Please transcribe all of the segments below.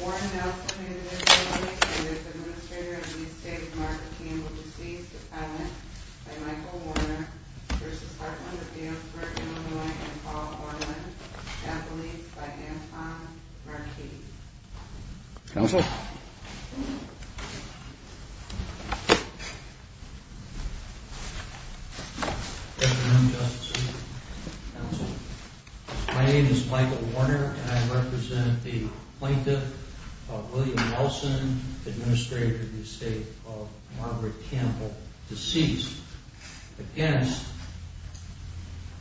Warren Nelson v. Administrator of the Estate of Mark Campbell, deceased, Appellant, by Michael Warner v. Heartland of Galesburg IL, and Paul Orland, Appellate, by Anton Marquis My name is Michael Warner and I represent the Plaintiff of William Nelson, Administrator of the Estate of Margaret Campbell, deceased, against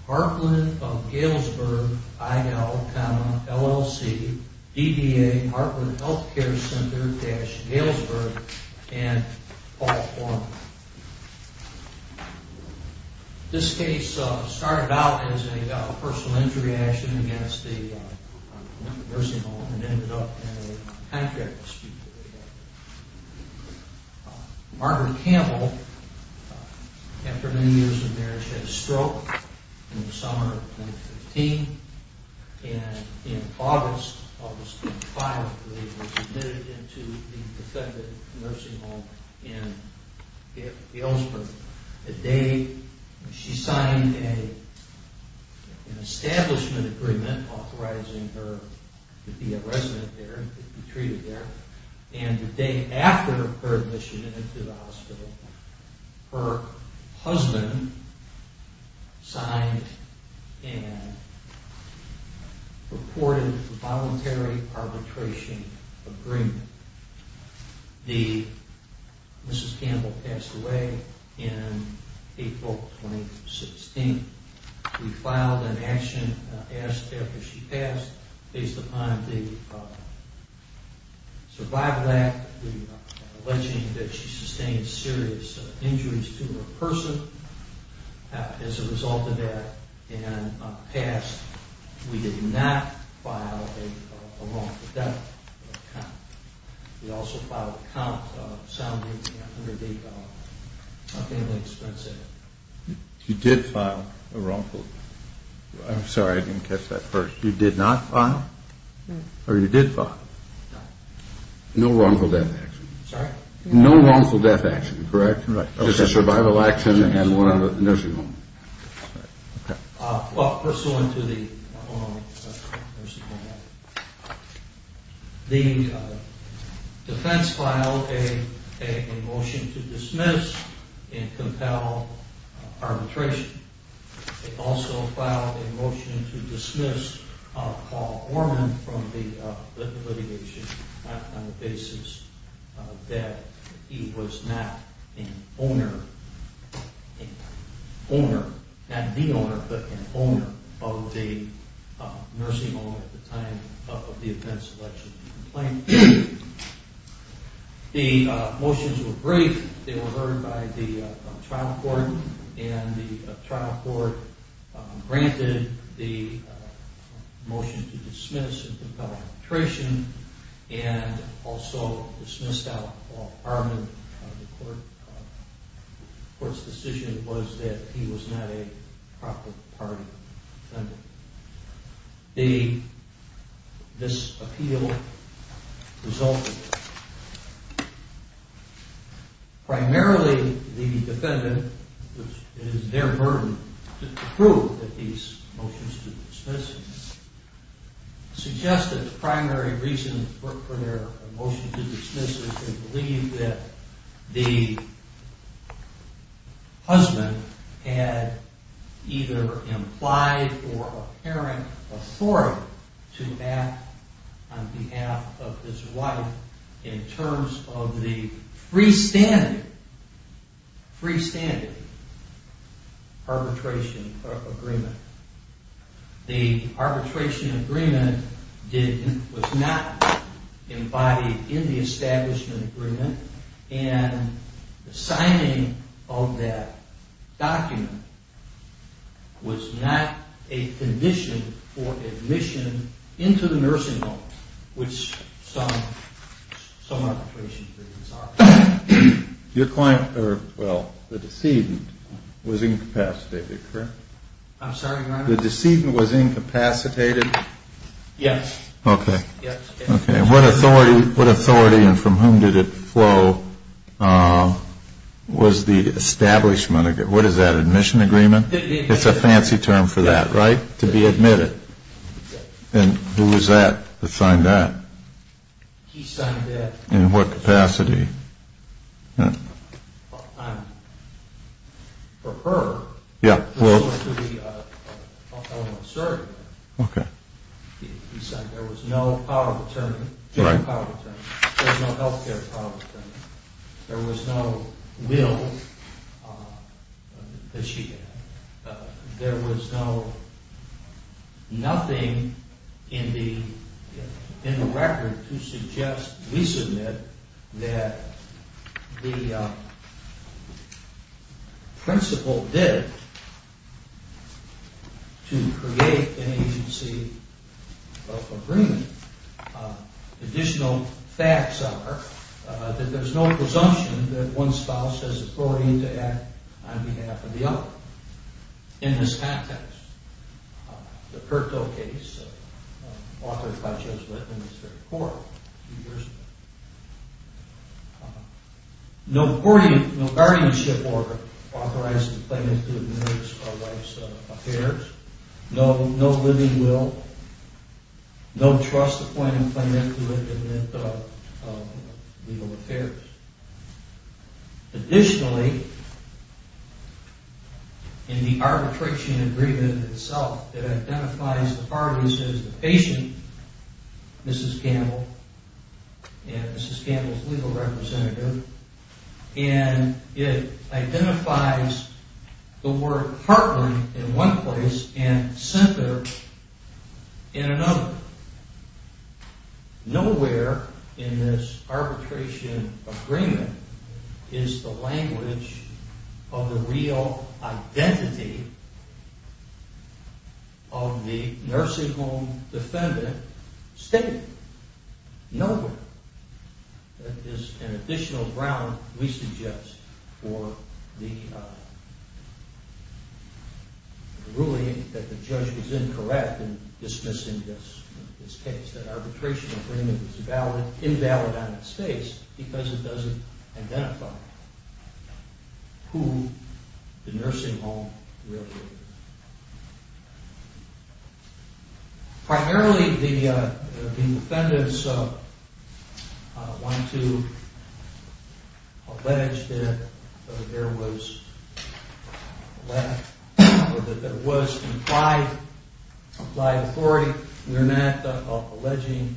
Heartland of Galesburg IL, LLC, DBA, Heartland Health Care Center-Galesburg, and Paul Orland This case started out as a personal injury action against a nursing home and ended up in a contract dispute. Margaret Campbell, after many years of marriage, had a stroke in the summer of 2015, and in August of 2015 was admitted into the defendant's nursing home in Galesburg. The day she signed an establishment agreement authorizing her to be a resident there, to be treated there, and the day after her admission into the hospital, her husband signed and purported a voluntary arbitration agreement. Mrs. Campbell passed away in April 2016. We filed an action after she passed, based upon the survival act, alleging that she sustained serious injuries to her person as a result of that, and passed. We did not file a wrongful death account. We also filed a count sounding the $100,000 family expense act. You did file a wrongful death? I'm sorry, I didn't catch that first. You did not file? Or you did file? No wrongful death action. No wrongful death action, correct? Just a survival action and one at a nursing home. Well, pursuant to the nursing home act, the defense filed a motion to dismiss and compel arbitration. They also filed a motion to dismiss Paul Orman from the litigation on the basis that he was not an owner, not the owner, but an owner of the nursing home at the time of the defendant's election complaint. The motions were brief. They were heard by the trial court, and the trial court granted the motion to dismiss and compel arbitration, and also dismissed Paul Orman. The court's decision was that he was not a proper party defendant. This appeal resulted in this. Primarily, the defendant, it is their burden to prove that these motions to dismiss him, suggest that the primary reason for their motion to dismiss is they believe that the husband had either implied or apparent authority to act on behalf of his wife in terms of the freestanding arbitration agreement. The arbitration agreement was not embodied in the establishment agreement, and the signing of that document was not a condition for admission into the nursing home, which some arbitration cases are. Your client, or, well, the decedent, was incapacitated, correct? I'm sorry, Your Honor? The decedent was incapacitated? Yes. Okay. Yes. Okay. What authority, and from whom did it flow, was the establishment, what is that, admission agreement? It's a fancy term for that, right? To be admitted. Yes. And who was that that signed that? He signed that. In what capacity? I'm, for her. Yeah, well. Okay. To create an agency of agreement. Additional facts are that there's no presumption that one spouse has authority to act on behalf of the other in this context. The Perto case, authored by Judge Whitman, was heard in court a few years ago. No guardianship order authorizing the plaintiff to admit his or her wife's affairs. No living will, no trust appointing the plaintiff to admit legal affairs. Additionally, in the arbitration agreement itself, it identifies the parties as the patient, Mrs. Gamble, and Mrs. Gamble's legal representative, and it identifies the word heartland in one place and center in another. Nowhere in this arbitration agreement is the language of the real identity of the nursing home defendant stated. Nowhere is an additional ground, we suggest, for the ruling that the judge was incorrect in dismissing this case. That arbitration agreement was invalid on its face because it doesn't identify who the nursing home realtor is. Primarily, the defendants want to allege that there was implied authority. We're not alleging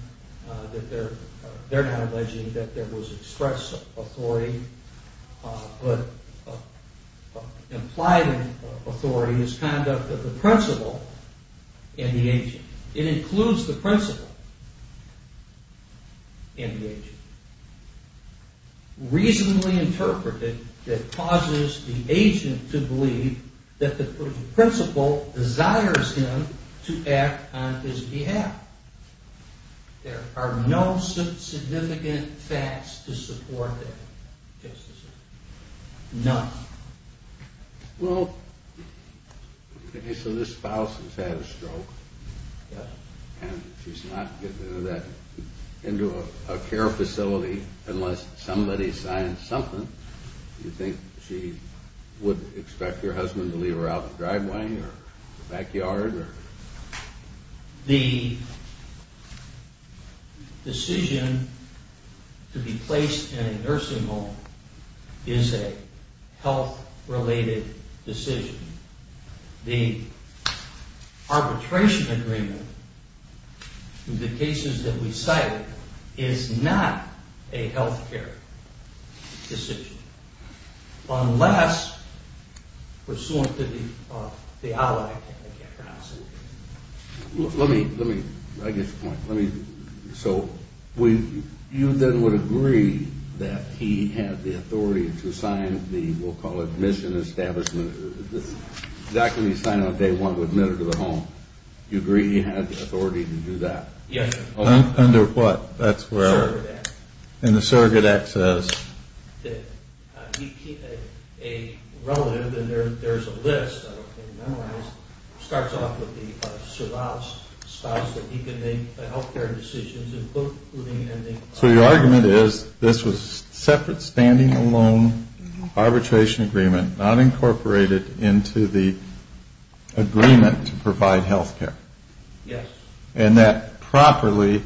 that there was expressed authority, but implied authority is conduct of the principal and the agent. There are no significant facts to support that. None. Well, okay, so this spouse has had a stroke, and she's not getting into a care facility unless somebody signs something. Do you think she would expect her husband to leave her out in the driveway or the backyard? The decision to be placed in a nursing home is a health-related decision. The arbitration agreement in the cases that we cite is not a health-care decision, unless pursuant to the outline. Let me, I get your point. So you then would agree that he had the authority to sign the, we'll call it, mission establishment, exactly what he signed on day one to admit her to the home. You agree he had the authority to do that? Yes, sir. Under what? The surrogate act. And the surrogate act says? A relative, and there's a list, I don't think, it starts off with the spouse that he can make the health-care decisions. So your argument is this was separate, standing alone, arbitration agreement, not incorporated into the agreement to provide health care? Yes. And that properly,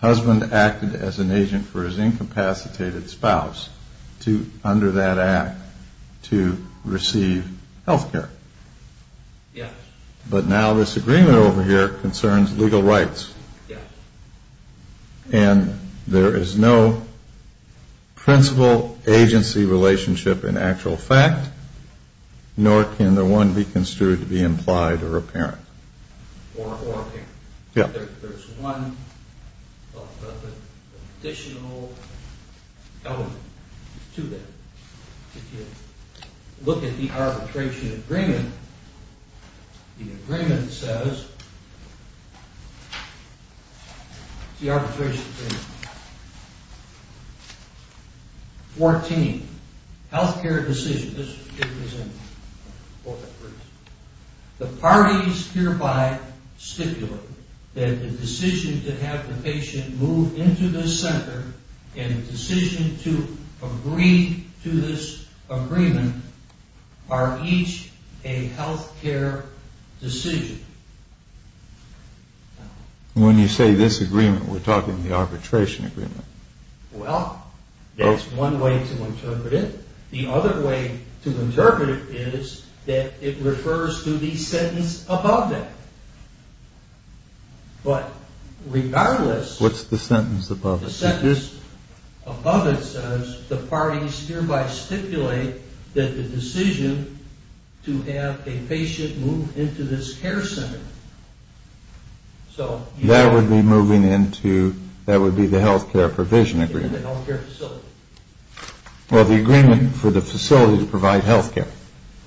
husband acted as an agent for his incapacitated spouse to, under that act, to receive health care. Yes. But now this agreement over here concerns legal rights. Yes. And there is no principal agency relationship in actual fact, nor can the one be construed to be implied or apparent. Or apparent. Yes. There's one additional element to that. If you look at the arbitration agreement, the agreement says, the arbitration agreement. Fourteen, health-care decisions. The parties hereby stipulate that the decision to have the patient move into the center and the decision to agree to this agreement are each a health-care decision. When you say this agreement, we're talking the arbitration agreement. Well, that's one way to interpret it. The other way to interpret it is that it refers to the sentence above it. But regardless. What's the sentence above it? The sentence above it says, the parties hereby stipulate that the decision to have a patient move into this care center. That would be moving into, that would be the health-care provision agreement. In the health-care facility. Well, the agreement for the facility to provide health care.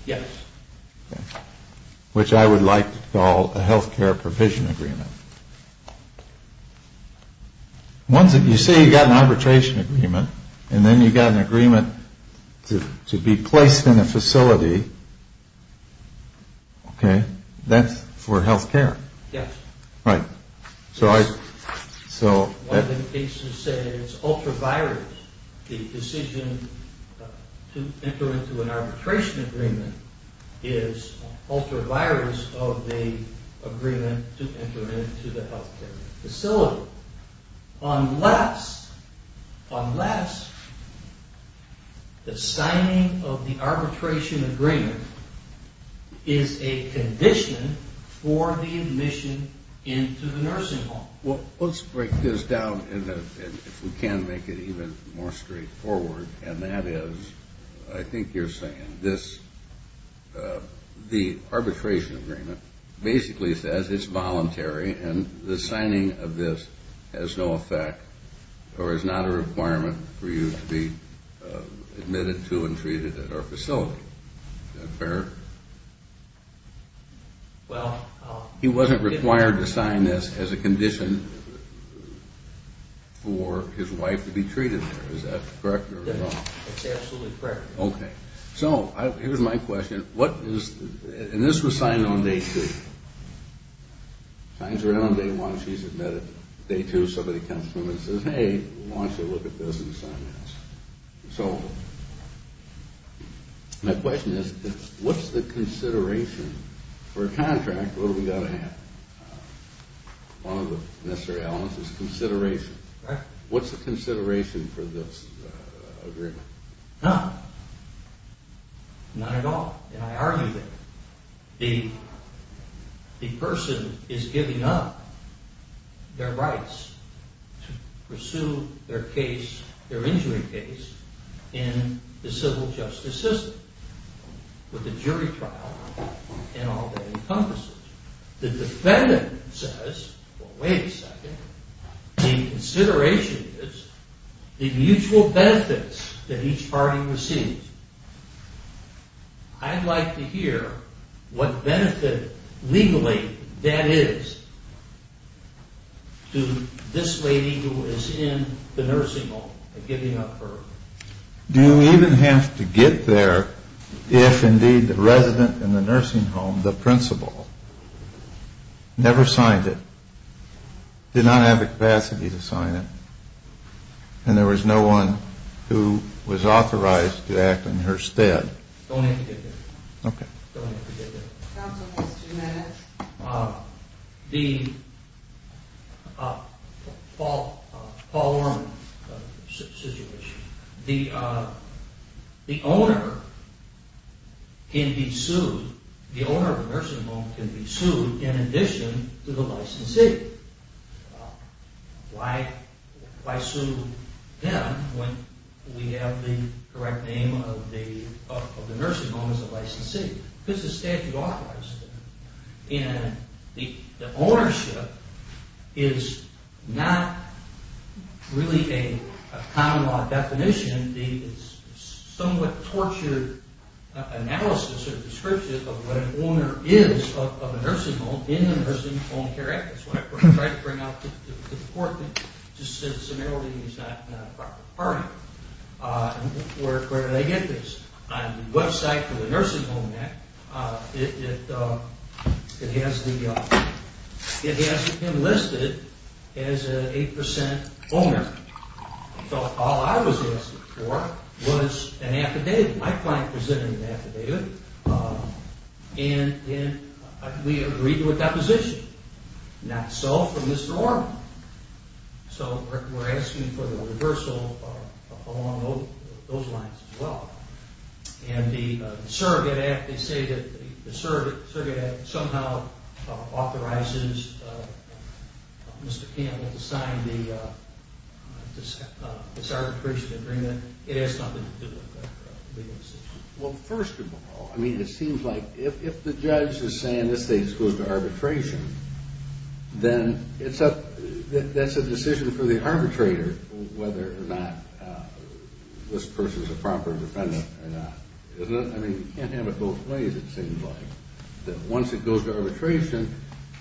Yes. Which I would like to call a health-care provision agreement. You say you've got an arbitration agreement. And then you've got an agreement to be placed in a facility. Okay. That's for health care. Yes. Right. One of the cases says ultra-virus. The decision to enter into an arbitration agreement is ultra-virus of the agreement to enter into the health-care facility. Unless, unless the signing of the arbitration agreement is a condition for the admission into the nursing home. Well, let's break this down if we can make it even more straightforward. And that is, I think you're saying this, the arbitration agreement basically says it's voluntary. And the signing of this has no effect or is not a requirement for you to be admitted to and treated at our facility. Is that fair? Well. He wasn't required to sign this as a condition for his wife to be treated there. Is that correct or wrong? It's absolutely correct. Okay. So here's my question. What is, and this was signed on day two. Signs are in on day one. She's admitted. Day two, somebody comes to them and says, hey, why don't you look at this and sign this. So my question is, what's the consideration for a contract? What do we got to have? One of the necessary elements is consideration. What's the consideration for this agreement? No. Not at all. And I argue that the person is giving up their rights to pursue their injury case in the civil justice system with a jury trial and all that encompasses. The defendant says, well, wait a second. The consideration is the mutual benefits that each party receives. I'd like to hear what benefit legally that is to this lady who is in the nursing home and giving up her. Do you even have to get there if, indeed, the resident in the nursing home, the principal, never signed it, did not have the capacity to sign it, and there was no one who was authorized to act on her stead? Don't have to get there. Okay. Don't have to get there. Counsel has two minutes. The Paul Orman situation. The owner can be sued. The owner of the nursing home can be sued in addition to the licensee. Why sue them when we have the correct name of the nursing home as the licensee? Because the statute authorizes it. And the ownership is not really a common law definition. It's a somewhat tortured analysis or description of what an owner is of a nursing home in the Nursing Home Care Act. That's what I tried to bring out to the court. It just said, summarily, he's not a proper party. Where did I get this? On the website for the Nursing Home Act, it has him listed as an 8% owner. So all I was asking for was an affidavit. My client presented an affidavit, and we agreed with that position. Not so from Mr. Orman. So we're asking for the reversal along those lines as well. And the surrogate act, they say that the surrogate act somehow authorizes Mr. Campbell to sign this arbitration agreement. It has something to do with that legal decision. Well, first of all, I mean, it seems like if the judge is saying this case goes to arbitration, then that's a decision for the arbitrator whether or not this person is a proper defendant or not. Isn't it? I mean, you can't have it both ways, it seems like. Once it goes to arbitration,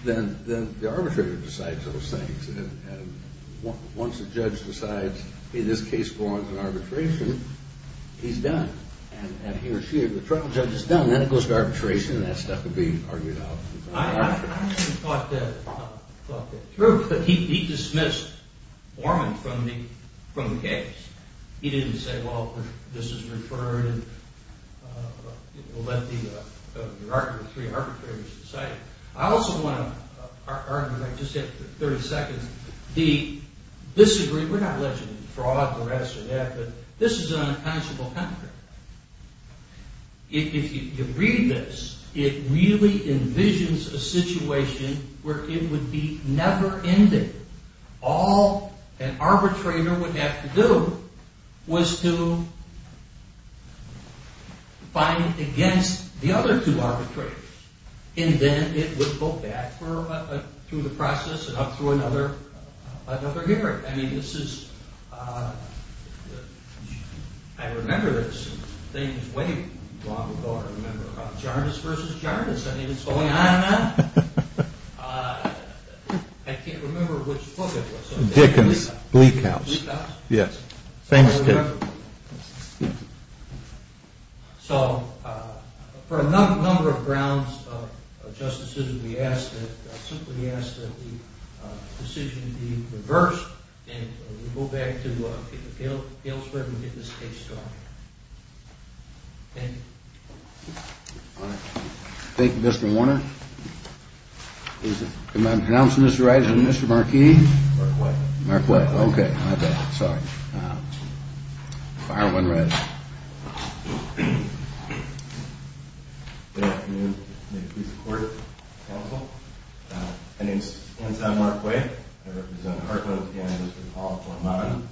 then the arbitrator decides those things. And once the judge decides, hey, this case belongs to arbitration, he's done. And he or she or the trial judge is done. Then it goes to arbitration, and that stuff can be argued out. I haven't thought that through, but he dismissed Orman from the case. He didn't say, well, this is referred and, you know, let the three arbitrators decide. I also want to argue, and I just have 30 seconds, the disagreement. We're not alleging fraud, the rest of that, but this is an unpunishable hamper. If you read this, it really envisions a situation where it would be never ending. All an arbitrator would have to do was to find against the other two arbitrators. And then it would go back through the process and up through another hearing. I mean, this is ‑‑ I remember this thing way long ago. I remember Jarvis versus Jarvis. I mean, it's going on and on. I can't remember which book it was. Dickens. Bleak House. Bleak House? Yes. Famous case. So for a number of grounds of justices, we ask that the decision be reversed. And we go back to Palesburg and get this case started. Thank you. All right. Thank you, Mr. Warner. Good morning. Can I pronounce Mr. Wright as Mr. Marquis? Marquis. Marquis. Okay. My bad. Sorry. Fire when ready. Good afternoon. May it please the court, counsel. My name is Anton Marquis. I represent Hartland and Mr. Paul Hormann.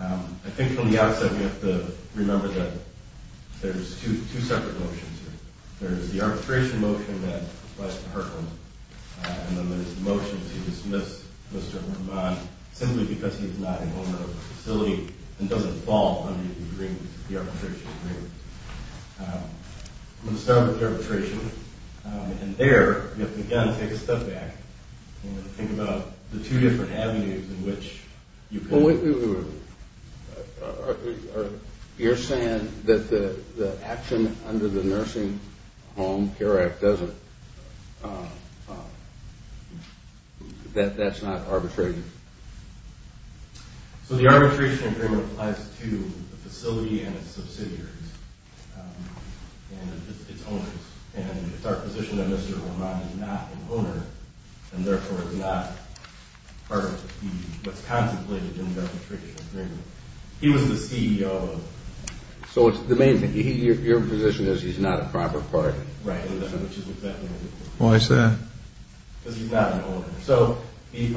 I think from the outset we have to remember that there's two separate motions here. There's the arbitration motion that requests Hartland. And then there's the motion to dismiss Mr. Hormann simply because he's not in the facility and doesn't fall under the arbitration agreement. I'm going to start with arbitration. And there we've got to take a step back and think about the two different avenues in which you can. You're saying that the action under the Nursing Home Care Act doesn't, that that's not arbitration? So the arbitration agreement applies to the facility and its subsidiaries and its owners. And it's our position that Mr. Hormann is not an owner and, therefore, is not part of what's contemplated in the arbitration agreement. He was the CEO of it. So it's the main thing. Your position is he's not a proper partner? Right. Why is that? Because he's not an owner. So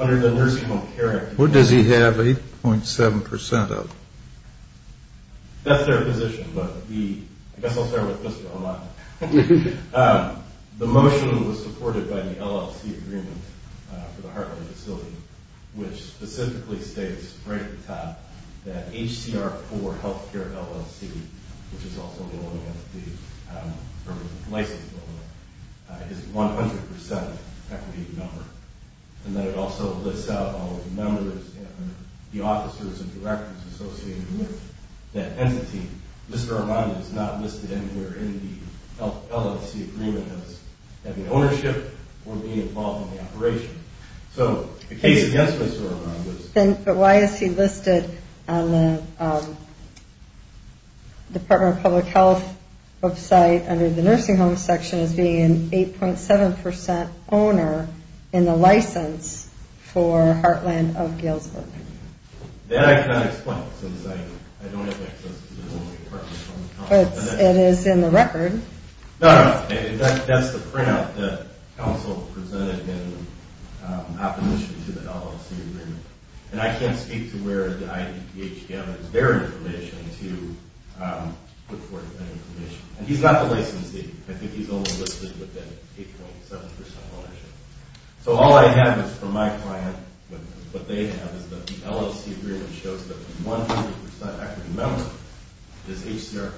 under the Nursing Home Care Act. What does he have 8.7% of? That's their position. But I guess I'll start with Mr. Hormann. The motion was supported by the LLC agreement for the Hartley facility, which specifically states right at the top that HCR4 Healthcare LLC, which is also known as the license loan, is 100% equity in number. And that it also lists out all of the members and the officers and directors associated with that entity. Mr. Hormann is not listed anywhere in the LLC agreement as having ownership or being involved in the operation. So the case against Mr. Hormann was? But why is he listed on the Department of Public Health website under the nursing home section as being an 8.7% owner in the license for Heartland of Galesburg? That I cannot explain since I don't have access to the Department of Public Health. But it is in the record. No, no. In fact, that's the printout that counsel presented in opposition to the LLC agreement. And I can't speak to where the IDPH has their information to put forth that information. And he's got the licensee. I think he's only listed within 8.7% ownership. So all I have is from my client what they have is that the LLC agreement shows that 100% equity in number is HCR 4.0.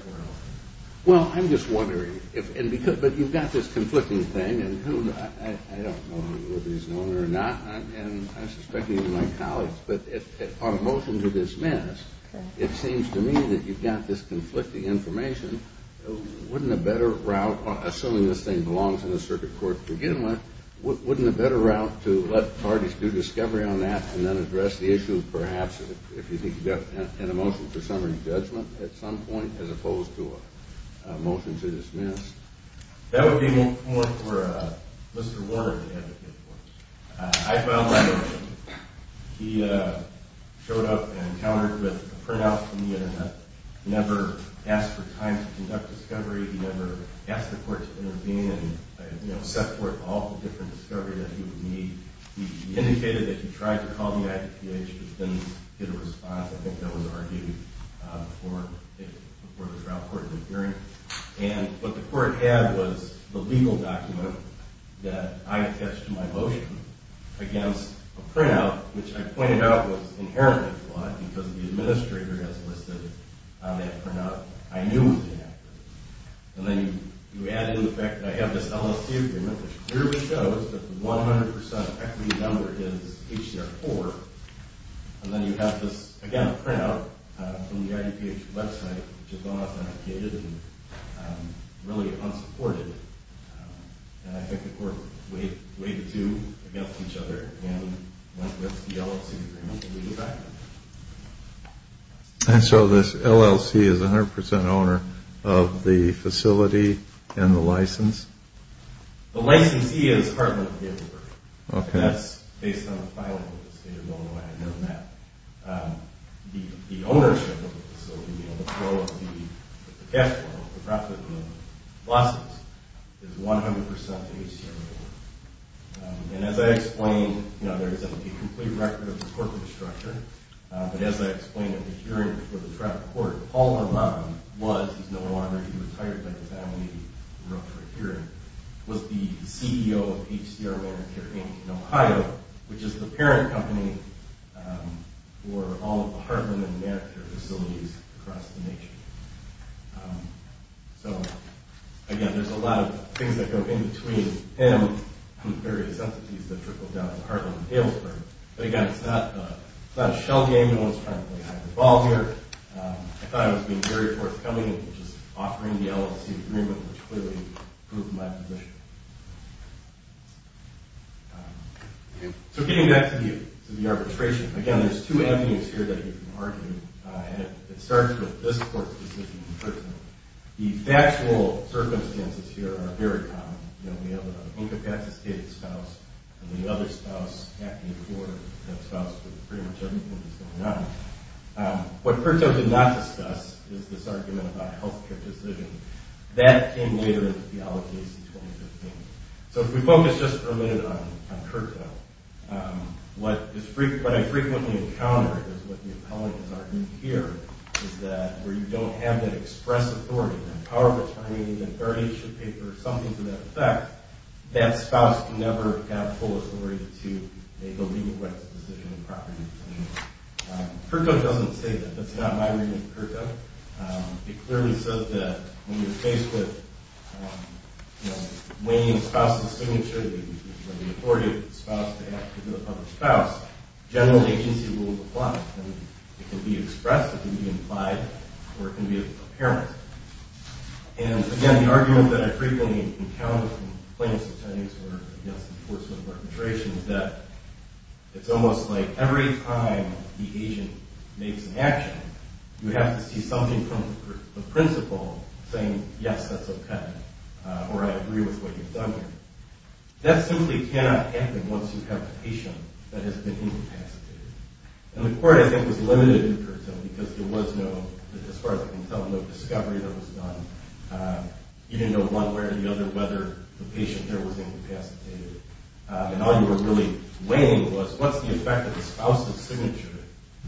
Well, I'm just wondering. But you've got this conflicting thing. And I don't know whether he's an owner or not. And I suspect he's my colleague. But on motion to dismiss, it seems to me that you've got this conflicting information. Wouldn't a better route, assuming this thing belongs in the circuit court to wouldn't a better route to let parties do discovery on that and then address the issue, perhaps, if you think you've got a motion for summary judgment at some point as opposed to a motion to dismiss? That would be more for Mr. Warner to advocate for. I filed my motion. He showed up and countered with a printout from the Internet. Never asked for time to conduct discovery. He never asked the court to intervene and, you know, set forth all the different discovery that he would need. He indicated that he tried to call the IPH but didn't get a response. I think that was argued before the trial court did a hearing. And what the court had was the legal document that I attached to my motion against a printout, which I pointed out was inherently flawed because the administrator has listed on that printout I knew was inaccurate. And then you add in the fact that I have this LLC agreement, which clearly shows that the 100% equity number is HCR 4. And then you have this, again, a printout from the IPH website, which is unauthenticated and really unsupported. And I think the court weighed the two against each other and went with the LLC agreement to leave it that way. And so this LLC is 100% owner of the facility and the license? The licensee is Hartman & Gettler. Okay. That's based on the filing of the state of Illinois. I know that. The ownership of the facility, you know, the flow of the cash flow, the profit and the losses is 100% HCR 4. And as I explained, you know, there is a complete record of the corporate structure. But as I explained at the hearing for the trial court, Paul Harbaugh was, he's no longer, he retired by the time we were up for a hearing, was the CEO of HCR Manicure Inc. in Ohio, which is the parent company for all of the Hartman and Manicure facilities across the nation. So, again, there's a lot of things that go in between him and various entities that trickle down to Hartman & Gettler. But, again, it's not a shell game. No one's trying to play hide-and-seek here. I thought it was being very forthcoming and just offering the LLC agreement, which clearly proved my position. So getting back to the arbitration, again, there's two avenues here that you can argue. And it starts with this court's decision in person. The factual circumstances here are very common. You know, we have an incapacitated spouse and the other spouse acting for that spouse with pretty much everything that's going on. What Curto did not discuss is this argument about health care decisions. That came later in the theology AC 2015. So if we focus just for a minute on Curto, what I frequently encounter is what the appellant has argued here is that where you don't have that express authority, that power of attorney, that authority should pay for something to that effect, that spouse can never have full authority to make a legal rights decision and property decision. Curto doesn't say that. That's not my reading of Curto. It clearly says that when you're faced with, you know, weighing a spouse's signature, the authority of the spouse to act as a public spouse, general agency rules apply. It can be expressed, it can be implied, or it can be apparent. And again, the argument that I frequently encounter from plaintiffs' attorneys or against enforcement of arbitration is that it's almost like every time the agent makes an action, you have to see something from the principal saying, yes, that's okay, or I agree with what you've done here. That simply cannot happen once you have a patient that has been incapacitated. And the court, I think, was limited in Curto because there was no, as far as I can tell, no discovery that was done. You didn't know one way or the other whether the patient there was incapacitated. And all you were really weighing was what's the effect of the spouse's signature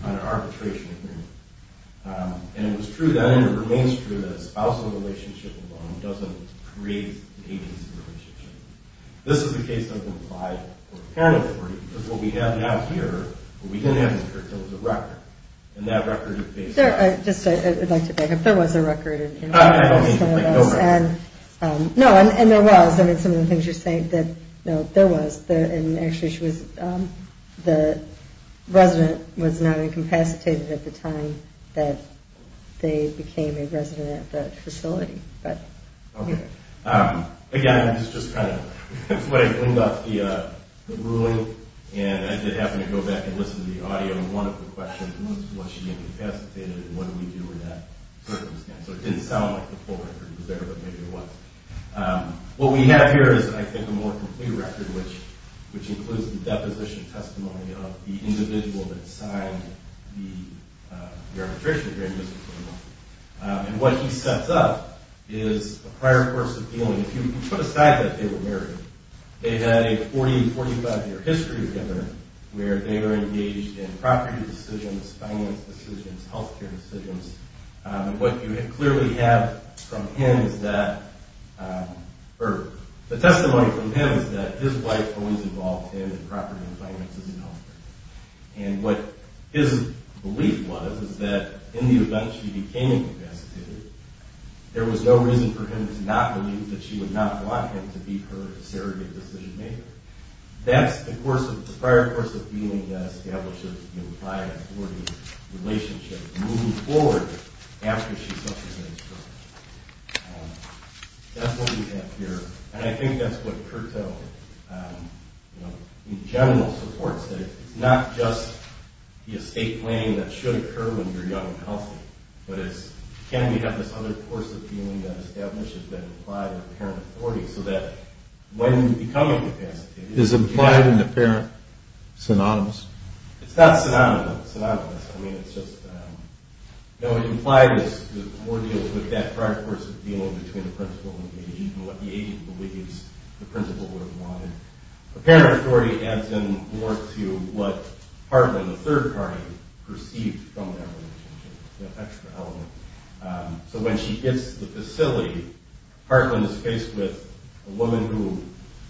on an arbitration agreement. And it was true then, and it remains true, that a spousal relationship alone doesn't create an agency relationship. This is the case that's implied or apparent for you because what we have now here, what we didn't have in Curto was a record. And that record is based on... I'd like to back up. There was a record in Curto. I don't mean to make no reference. No, and there was. I mean, some of the things you're saying that, no, there was. And actually, the resident was not incapacitated at the time that they became a resident at that facility. Okay. Again, I'm just trying to wind up the ruling. And I did happen to go back and listen to the audio in one of the questions, and it was, was she incapacitated, and what did we do in that circumstance? So it didn't sound like the full record was there, but maybe it was. What we have here is, I think, a more complete record, which includes the deposition testimony of the individual that signed the arbitration agreement. And what he sets up is a prior course of dealing. If you put aside that they were married, they had a 40, 45-year history together where they were engaged in property decisions, finance decisions, health care decisions. What you clearly have from him is that, or the testimony from him is that his wife always involved him in property and finances and health care. And what his belief was is that in the event she became incapacitated, there was no reason for him to not believe that she would not want him to be her surrogate decision-maker. That's the course of, the prior course of dealing that establishes the employer-authority relationship moving forward after she suffers an instruction. That's what we have here. And I think that's what CURTA in general supports, that it's not just the estate claim that should occur when you're young and healthy, but it's, can we have this other course of dealing that establishes that implied parent authority so that when you become incapacitated... Is implied and apparent synonymous? It's not synonymous. I mean, it's just, no, implied is more deals with that prior course of what the agent believes the principal would have wanted. Apparent authority adds in more to what Hartland, the third party, perceived from that relationship, that extra element. So when she gets to the facility, Hartland is faced with a woman who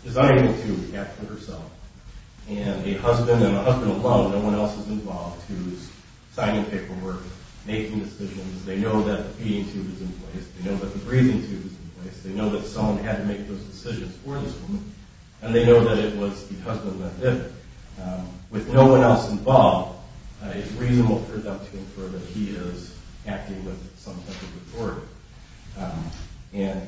is unable to act for herself, and a husband, and a husband alone, no one else is involved, who's signing paperwork, making decisions. They know that the feeding tube is in place. They know that the breathing tube is in place. They know that someone had to make those decisions for this woman, and they know that it was the husband that did it. With no one else involved, it's reasonable for them to infer that he is acting with some type of authority. And,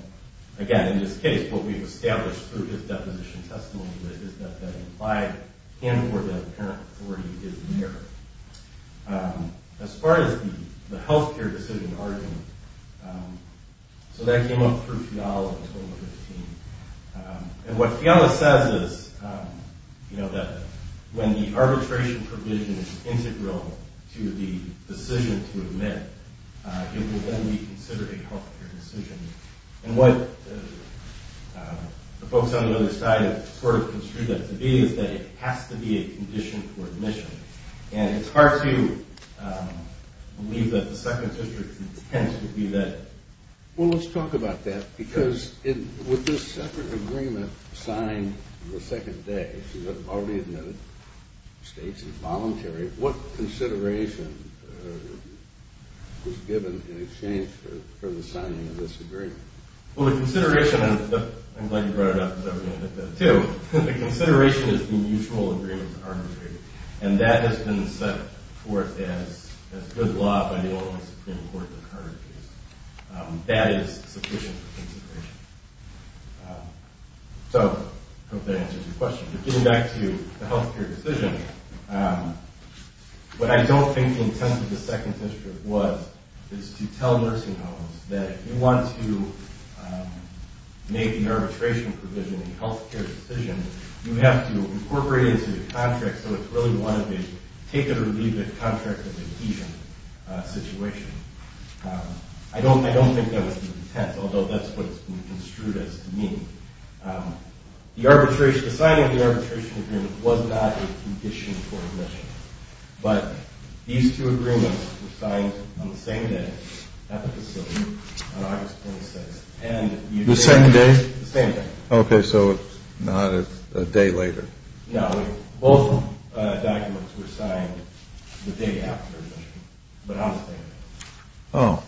again, in this case, what we've established through his deposition testimony is that that implied and or that apparent authority is there. As far as the health care decision argument, so that came up through Fiala in 2015. And what Fiala says is that when the arbitration provision is integral to the decision to admit, it will then be considered a health care decision. And what the folks on the other side have sort of construed that to be is that it has to be a condition for admission. And it's hard to believe that the Second District's intent would be that. Well, let's talk about that, because with this separate agreement signed the second day, as you've already admitted, the state's involuntary, what consideration was given in exchange for the signing of this agreement? Well, the consideration, and I'm glad you brought it up, because I was going to admit that, too. The consideration is the mutual agreement to arbitrate. And that has been set forth as good law by the Illinois Supreme Court in the current case. That is sufficient consideration. So I hope that answers your question. But getting back to the health care decision, what I don't think the intent of the Second District was is to tell nursing homes that if you want to make an arbitration provision in a health care decision, you have to incorporate it into the contract so it's really one of a take-it-or-leave-it contract of adhesion situation. I don't think that was the intent, although that's what it's been construed as to mean. The signing of the arbitration agreement was not a condition for admission. But these two agreements were signed on the same day, at the facility, on August 26th. The same day? The same day. Okay, so not a day later. No. Both documents were signed the day after admission. But on the same day. Oh.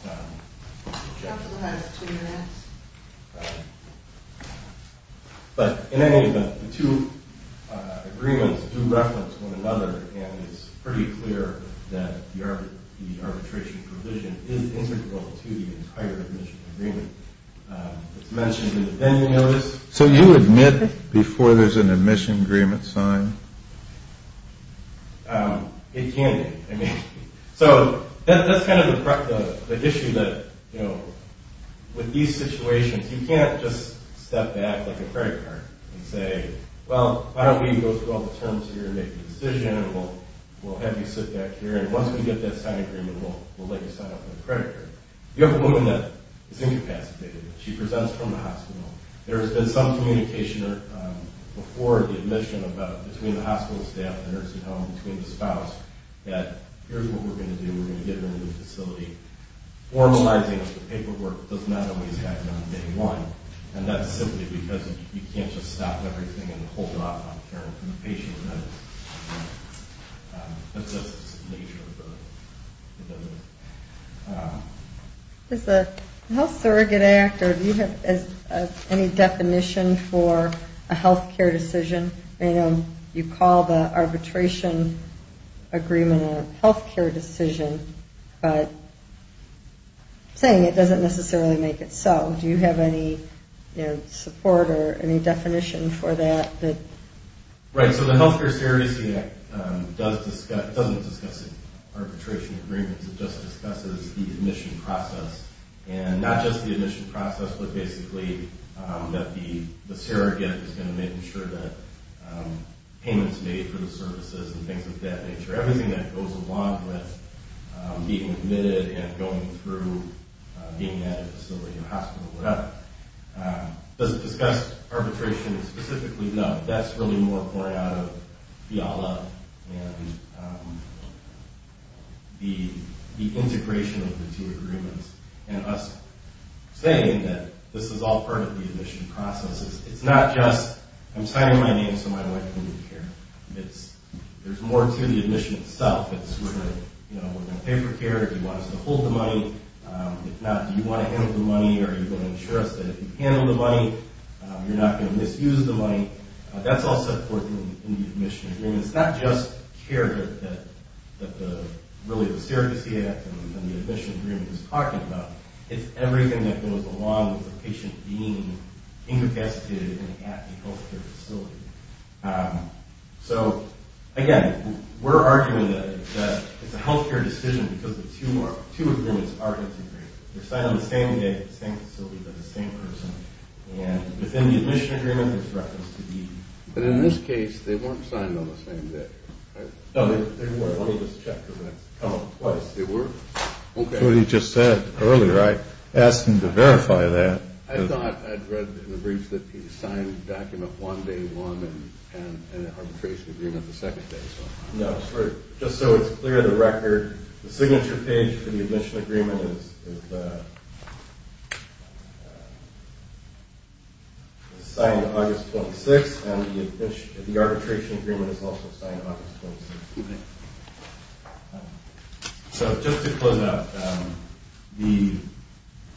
The gentleman has two minutes. But in any event, the two agreements do reference one another, and it's pretty clear that the arbitration provision is integral to the entire admission agreement. It's mentioned in the pending notice. So you admit before there's an admission agreement signed? It can be. So that's kind of the issue that, you know, with these situations, you can't just step back like a credit card and say, well, why don't we go through all the terms here and make a decision, and we'll have you sit back here, and once we get that signed agreement, we'll let you sign off on the credit card. You have a woman that is incapacitated. She presents from the hospital. There has been some communication before the admission about, between the hospital staff, the nursing home, between the spouse, that here's what we're going to do. We're going to get her into the facility. Formalizing the paperwork does not always happen on day one, and that's simply because you can't just stop everything and hold off on caring for the patient. That's just the nature of it. Does the Health Surrogate Act, or do you have any definition for a health care decision? You know, you call the arbitration agreement a health care decision, but saying it doesn't necessarily make it so. Do you have any support or any definition for that? Right. So the Health Care Surrogacy Act doesn't discuss arbitration agreements. It just discusses the admission process, and not just the admission process, but basically that the surrogate is going to make sure that payments made for the services and things of that nature, everything that goes along with being admitted and going through being at a facility, a hospital, whatever. Does it discuss arbitration specifically? No. That's really more pouring out of the ALA and the integration of the two agreements, and us saying that this is all part of the admission process. It's not just I'm signing my name so my wife can be cared. There's more to the admission itself. We're going to pay for care. Do you want us to hold the money? If not, do you want to handle the money? Are you going to ensure us that if you handle the money, you're not going to misuse the money? That's also important in the admission agreement. It's not just care that the Surrogacy Act and the admission agreement is talking about. It's everything that goes along with a patient being incapacitated and at the health care facility. So, again, we're arguing that it's a health care decision because the two agreements are integrated. They're signed on the same day at the same facility by the same person, and within the admission agreement, there's reference to the... But in this case, they weren't signed on the same day, right? No, they were. Let me just check because that's come up twice. They were? That's what he just said earlier. I asked him to verify that. I thought I'd read in the briefs that he signed the document one day, one, and an arbitration agreement the second day. No, just so it's clear to the record, the signature page for the admission agreement is signed August 26th, and the arbitration agreement is also signed August 26th. So just to close out,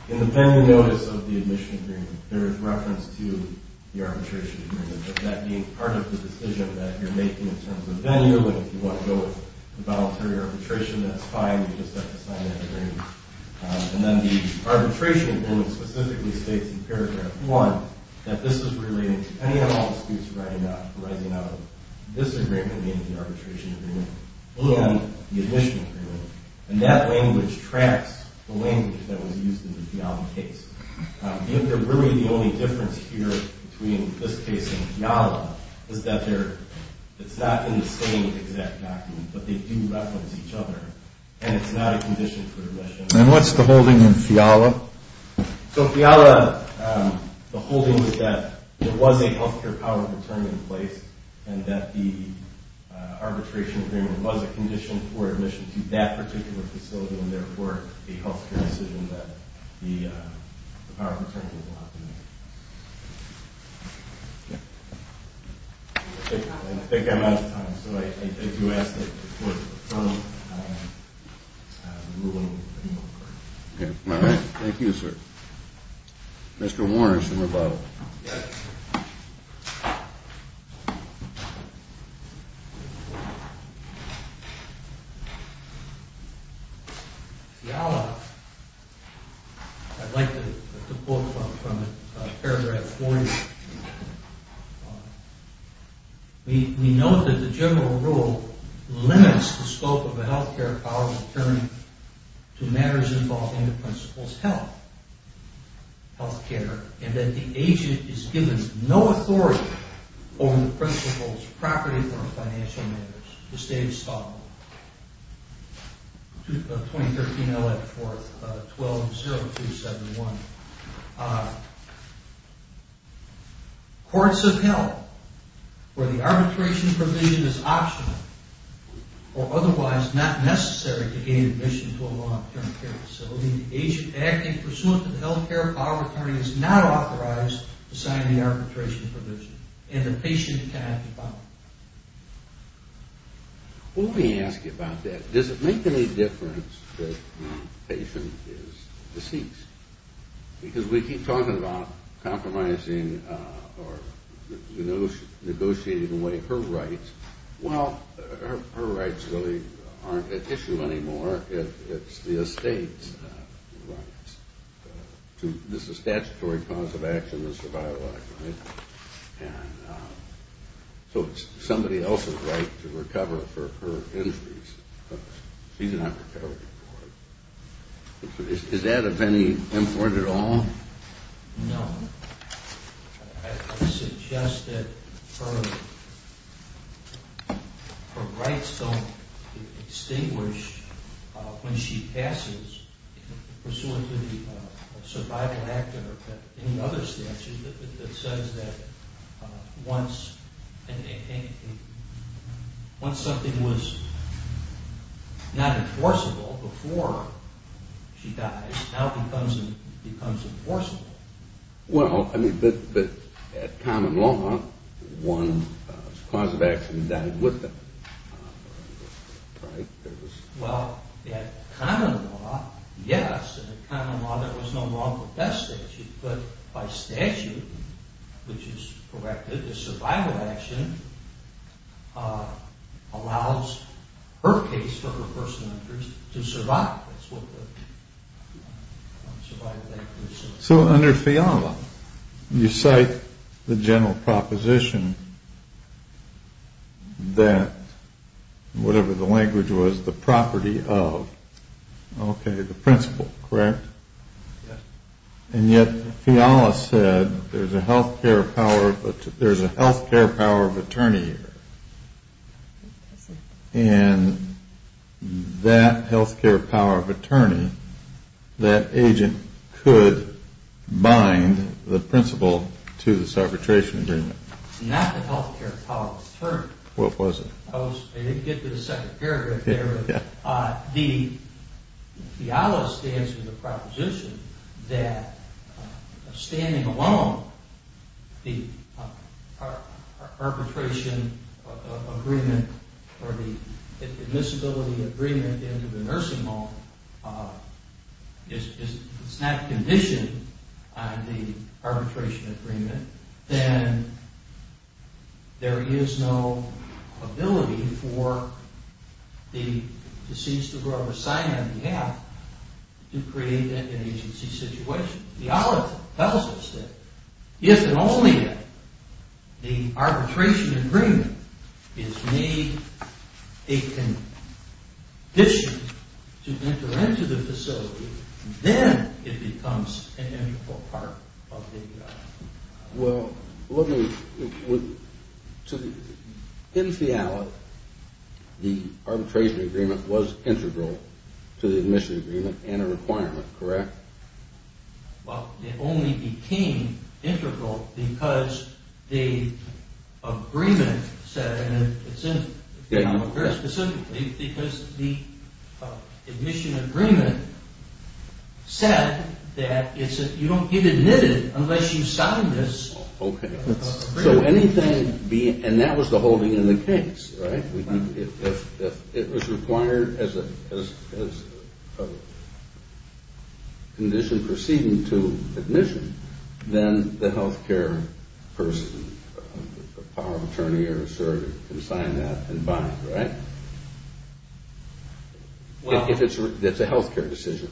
in the pending notice of the admission agreement, there is reference to the arbitration agreement, but that being part of the decision that you're making in terms of venue, if you want to go with the voluntary arbitration, that's fine. You just have to sign that agreement. And then the arbitration agreement specifically states in paragraph one that this is relating to any and all disputes arising out of this agreement in the arbitration agreement and the admission agreement, and that language tracks the language that was used in the FIALA case. Really the only difference here between this case and FIALA is that it's not in the same exact document, but they do reference each other, and it's not a condition for admission. And what's the holding in FIALA? So FIALA, the holding was that there was a health care power return in place and that the arbitration agreement was a condition for admission to that particular facility and, therefore, a health care decision that the power of attorney was allowed to make. I think I'm out of time, so I do ask that the Court confirm the ruling. Thank you, sir. Mr. Warner, some rebuttal. FIALA, I'd like to quote from paragraph 40. We note that the general rule limits the scope of a health care power of attorney to matters involving the principal's health, health care, and that the agent is given no authority over the principal's property or financial matters. The State of Scotland, 2013 L.A. 4th, 120271. Courts have held where the arbitration provision is optional or otherwise not necessary to gain admission to a long-term care facility. The agent acting pursuant to the health care power of attorney is not authorized to sign the arbitration provision, and the patient can have the power. Let me ask you about that. Does it make any difference that the patient is deceased? Because we keep talking about compromising or negotiating away her rights. Well, her rights really aren't at issue anymore. It's the estate's rights. This is statutory cause of action, the survival act, right? And so it's somebody else's right to recover for her injuries. She's not recovering for it. Is that of any import at all? No. I suggest that her rights don't extinguish when she passes pursuant to the survival act or any other statute that says that once something was not enforceable before she dies, it now becomes enforceable. Well, I mean, but at common law, one's cause of action died with them, right? Well, at common law, yes. At common law, there was no law for death statutes, but by statute, which is corrected, the survival action allows her case for her personal injuries to survive. So under FIALA, you cite the general proposition that whatever the language was, the property of, okay, the principal, correct? Yes. And yet FIALA said there's a health care power of attorney here. And that health care power of attorney, that agent could bind the principal to this arbitration agreement. Not the health care power of attorney. What was it? I didn't get to the second paragraph there, but FIALA stands with the proposition that standing alone, the arbitration agreement or the admissibility agreement into the nursing home is not conditioned on the arbitration agreement, then there is no ability for the deceased to grow a sign on behalf to create an agency situation. FIALA tells us that if and only if the arbitration agreement is made a condition to enter into the facility, then it becomes an integral part of the... Well, let me, in FIALA, the arbitration agreement was integral to the admission agreement and a requirement, correct? Well, it only became integral because the agreement said, very specifically because the admission agreement said that you don't get admitted unless you sign this. Okay. So anything being, and that was the holding in the case, right? If it was required as a condition proceeding to admission, then the health care person, the power of attorney or a surgeon, can sign that and buy it, right? If it's a health care decision.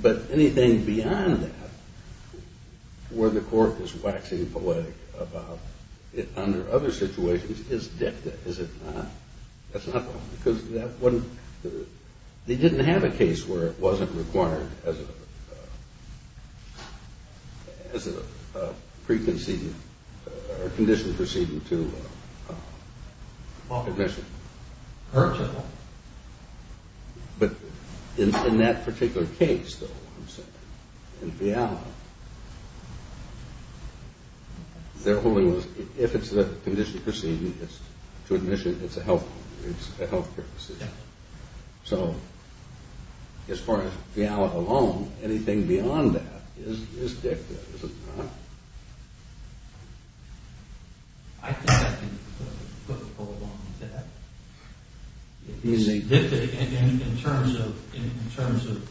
But anything beyond that, where the court is waxing poetic about it under other situations, is dicta, is it not? That's not the point, because that wasn't... They didn't have a case where it wasn't required as a preconceived, or a condition proceeding to admission. But in that particular case, though, in FIALA, if it's a condition proceeding to admission, it's a health care decision. So as far as FIALA alone, anything beyond that is dicta, is it not? I think I can put a poll on that. It's dicta in terms of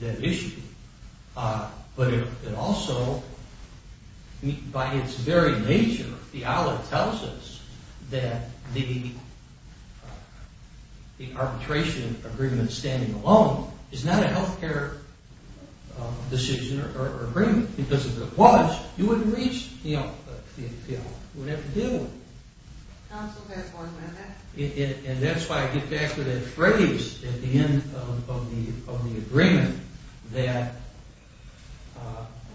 that issue. But it also, by its very nature, FIALA tells us that the arbitration agreement standing alone is not a health care decision or agreement, because if it was, you wouldn't reach FIALA. You would have to deal with it. And that's why I get back to that phrase at the end of the agreement, that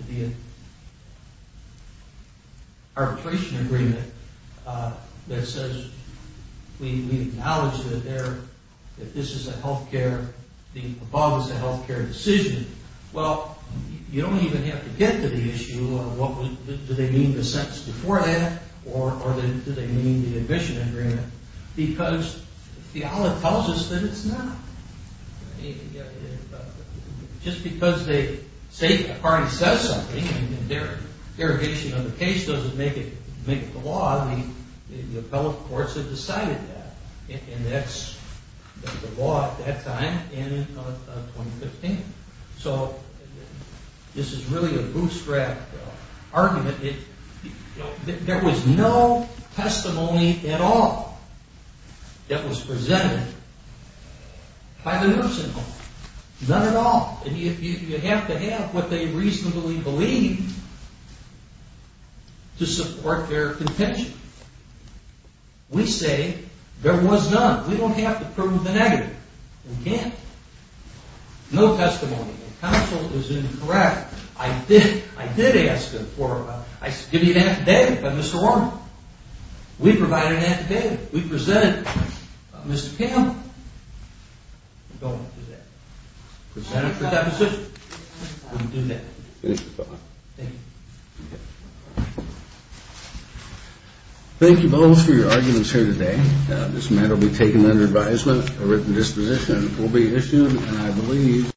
the arbitration agreement that says, we acknowledge that this is a health care, the above is a health care decision. Well, you don't even have to get to the issue, or do they mean the sentence before that, or do they mean the admission agreement? Because FIALA tells us that it's not. Just because a party says something and their interrogation of the case doesn't make it the law, the appellate courts have decided that. And that's the law at that time and in 2015. So this is really a bootstrap argument. There was no testimony at all that was presented by the nursing home. None at all. And you have to have what they reasonably believe to support their contention. We say there was none. We don't have to prove the negative. We can't. No testimony. The counsel is incorrect. I did ask them for... I said, give me an affidavit by Mr. Warner. We provided an affidavit. We presented Mr. Campbell. That's all I have to say. That's all I have to say. That's all I have to say. Thank you. Thank you both for your arguments here today. This matter will be taken under advisement. A written disposition will be issued, and I believe...